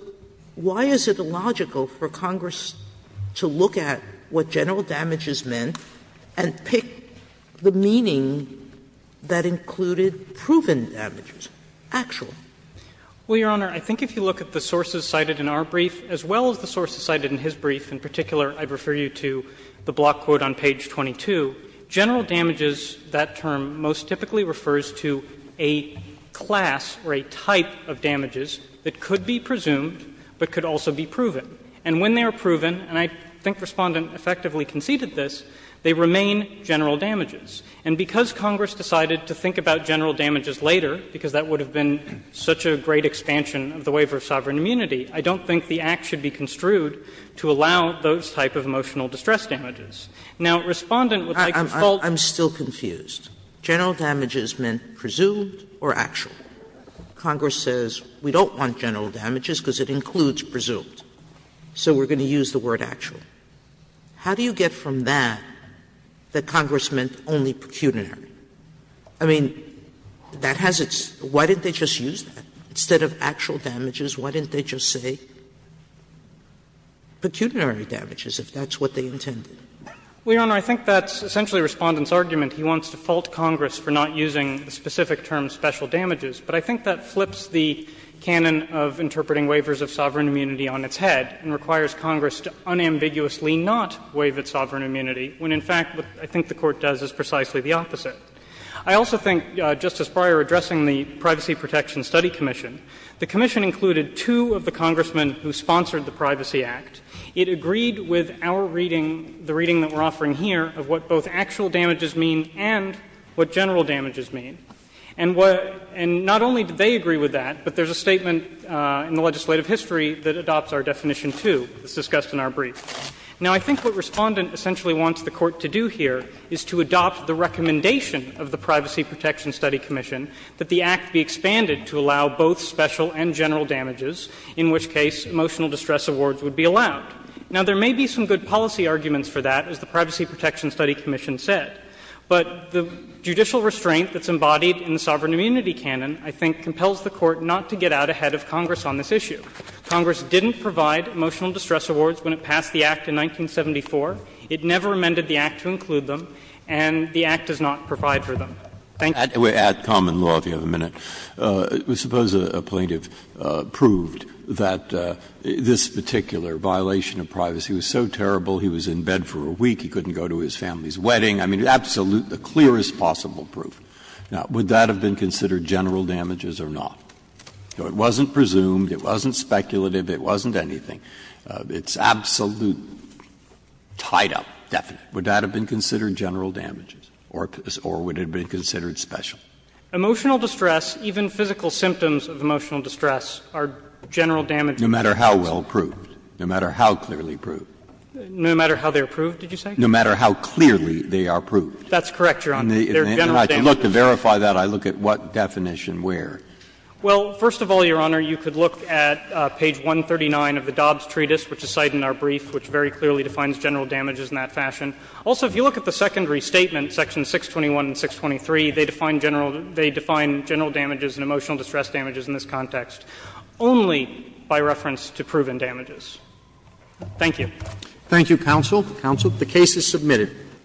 why is it illogical for Congress to look at what general damages meant and pick the meaning that included proven damages, actual? Feigin. Well, Your Honor, I think if you look at the sources cited in our brief, as well as the sources cited in his brief, in particular I'd refer you to the block quote on page 22, general damages, that term, most typically refers to a class or a type of damages that could be presumed, but could also be proven. And when they are proven, and I think Respondent effectively conceded this, they remain general damages. And because Congress decided to think about general damages later, because that would have been such a great expansion of the waiver of sovereign immunity, I don't think the Act should be construed to allow those type of emotional distress damages. Now, Respondent would like to follow up. Sotomayor, I'm still confused. General damages meant presumed or actual? Congress says we don't want general damages because it includes presumed, so we're going to use the word actual. How do you get from that that Congress meant only pecuniary? I mean, that has its – why didn't they just use that? Instead of actual damages, why didn't they just say pecuniary damages, if that's what they intended? Well, Your Honor, I think that's essentially Respondent's argument. He wants to fault Congress for not using the specific term special damages. But I think that flips the canon of interpreting waivers of sovereign immunity on its head and requires Congress to unambiguously not waive its sovereign immunity, when in fact what I think the Court does is precisely the opposite. I also think, Justice Breyer, addressing the Privacy Protection Study Commission, the commission included two of the congressmen who sponsored the Privacy Act. It agreed with our reading, the reading that we're offering here, of what both actual damages mean and what general damages mean. And what – and not only did they agree with that, but there's a statement in the legislative history that adopts our definition, too. It's discussed in our brief. Now, I think what Respondent essentially wants the Court to do here is to adopt the recommendation of the Privacy Protection Study Commission that the Act be expanded to allow both special and general damages, in which case emotional distress awards would be allowed. Now, there may be some good policy arguments for that, as the Privacy Protection Study Commission said, but the judicial restraint that's embodied in the sovereign immunity canon, I think, compels the Court not to get out ahead of Congress on this issue. Congress didn't provide emotional distress awards when it passed the Act in 1974. It never amended the Act to include them, and the Act does not provide for them. Thank you. Breyer. At common law, if you have a minute, I suppose a plaintiff proved that this particular violation of privacy was so terrible he was in bed for a week, he couldn't go to his family's wedding. I mean, absolute, the clearest possible proof. Now, would that have been considered general damages or not? It wasn't presumed, it wasn't speculative, it wasn't anything. It's absolute, tied up, definite. Would that have been considered general damages or would it have been considered special? Emotional distress, even physical symptoms of emotional distress, are general damages. No matter how well proved, no matter how clearly proved. No matter how they're proved, did you say? No matter how clearly they are proved. That's correct, Your Honor. They're general damages. And I can look to verify that. I look at what definition where. Well, first of all, Your Honor, you could look at page 139 of the Dobbs Treatise, which is cited in our brief, which very clearly defines general damages in that fashion. Also, if you look at the secondary statement, sections 621 and 623, they define general they define general damages and emotional distress damages in this context only by reference to proven damages. Thank you. Thank you, counsel. Counsel. The case is submitted.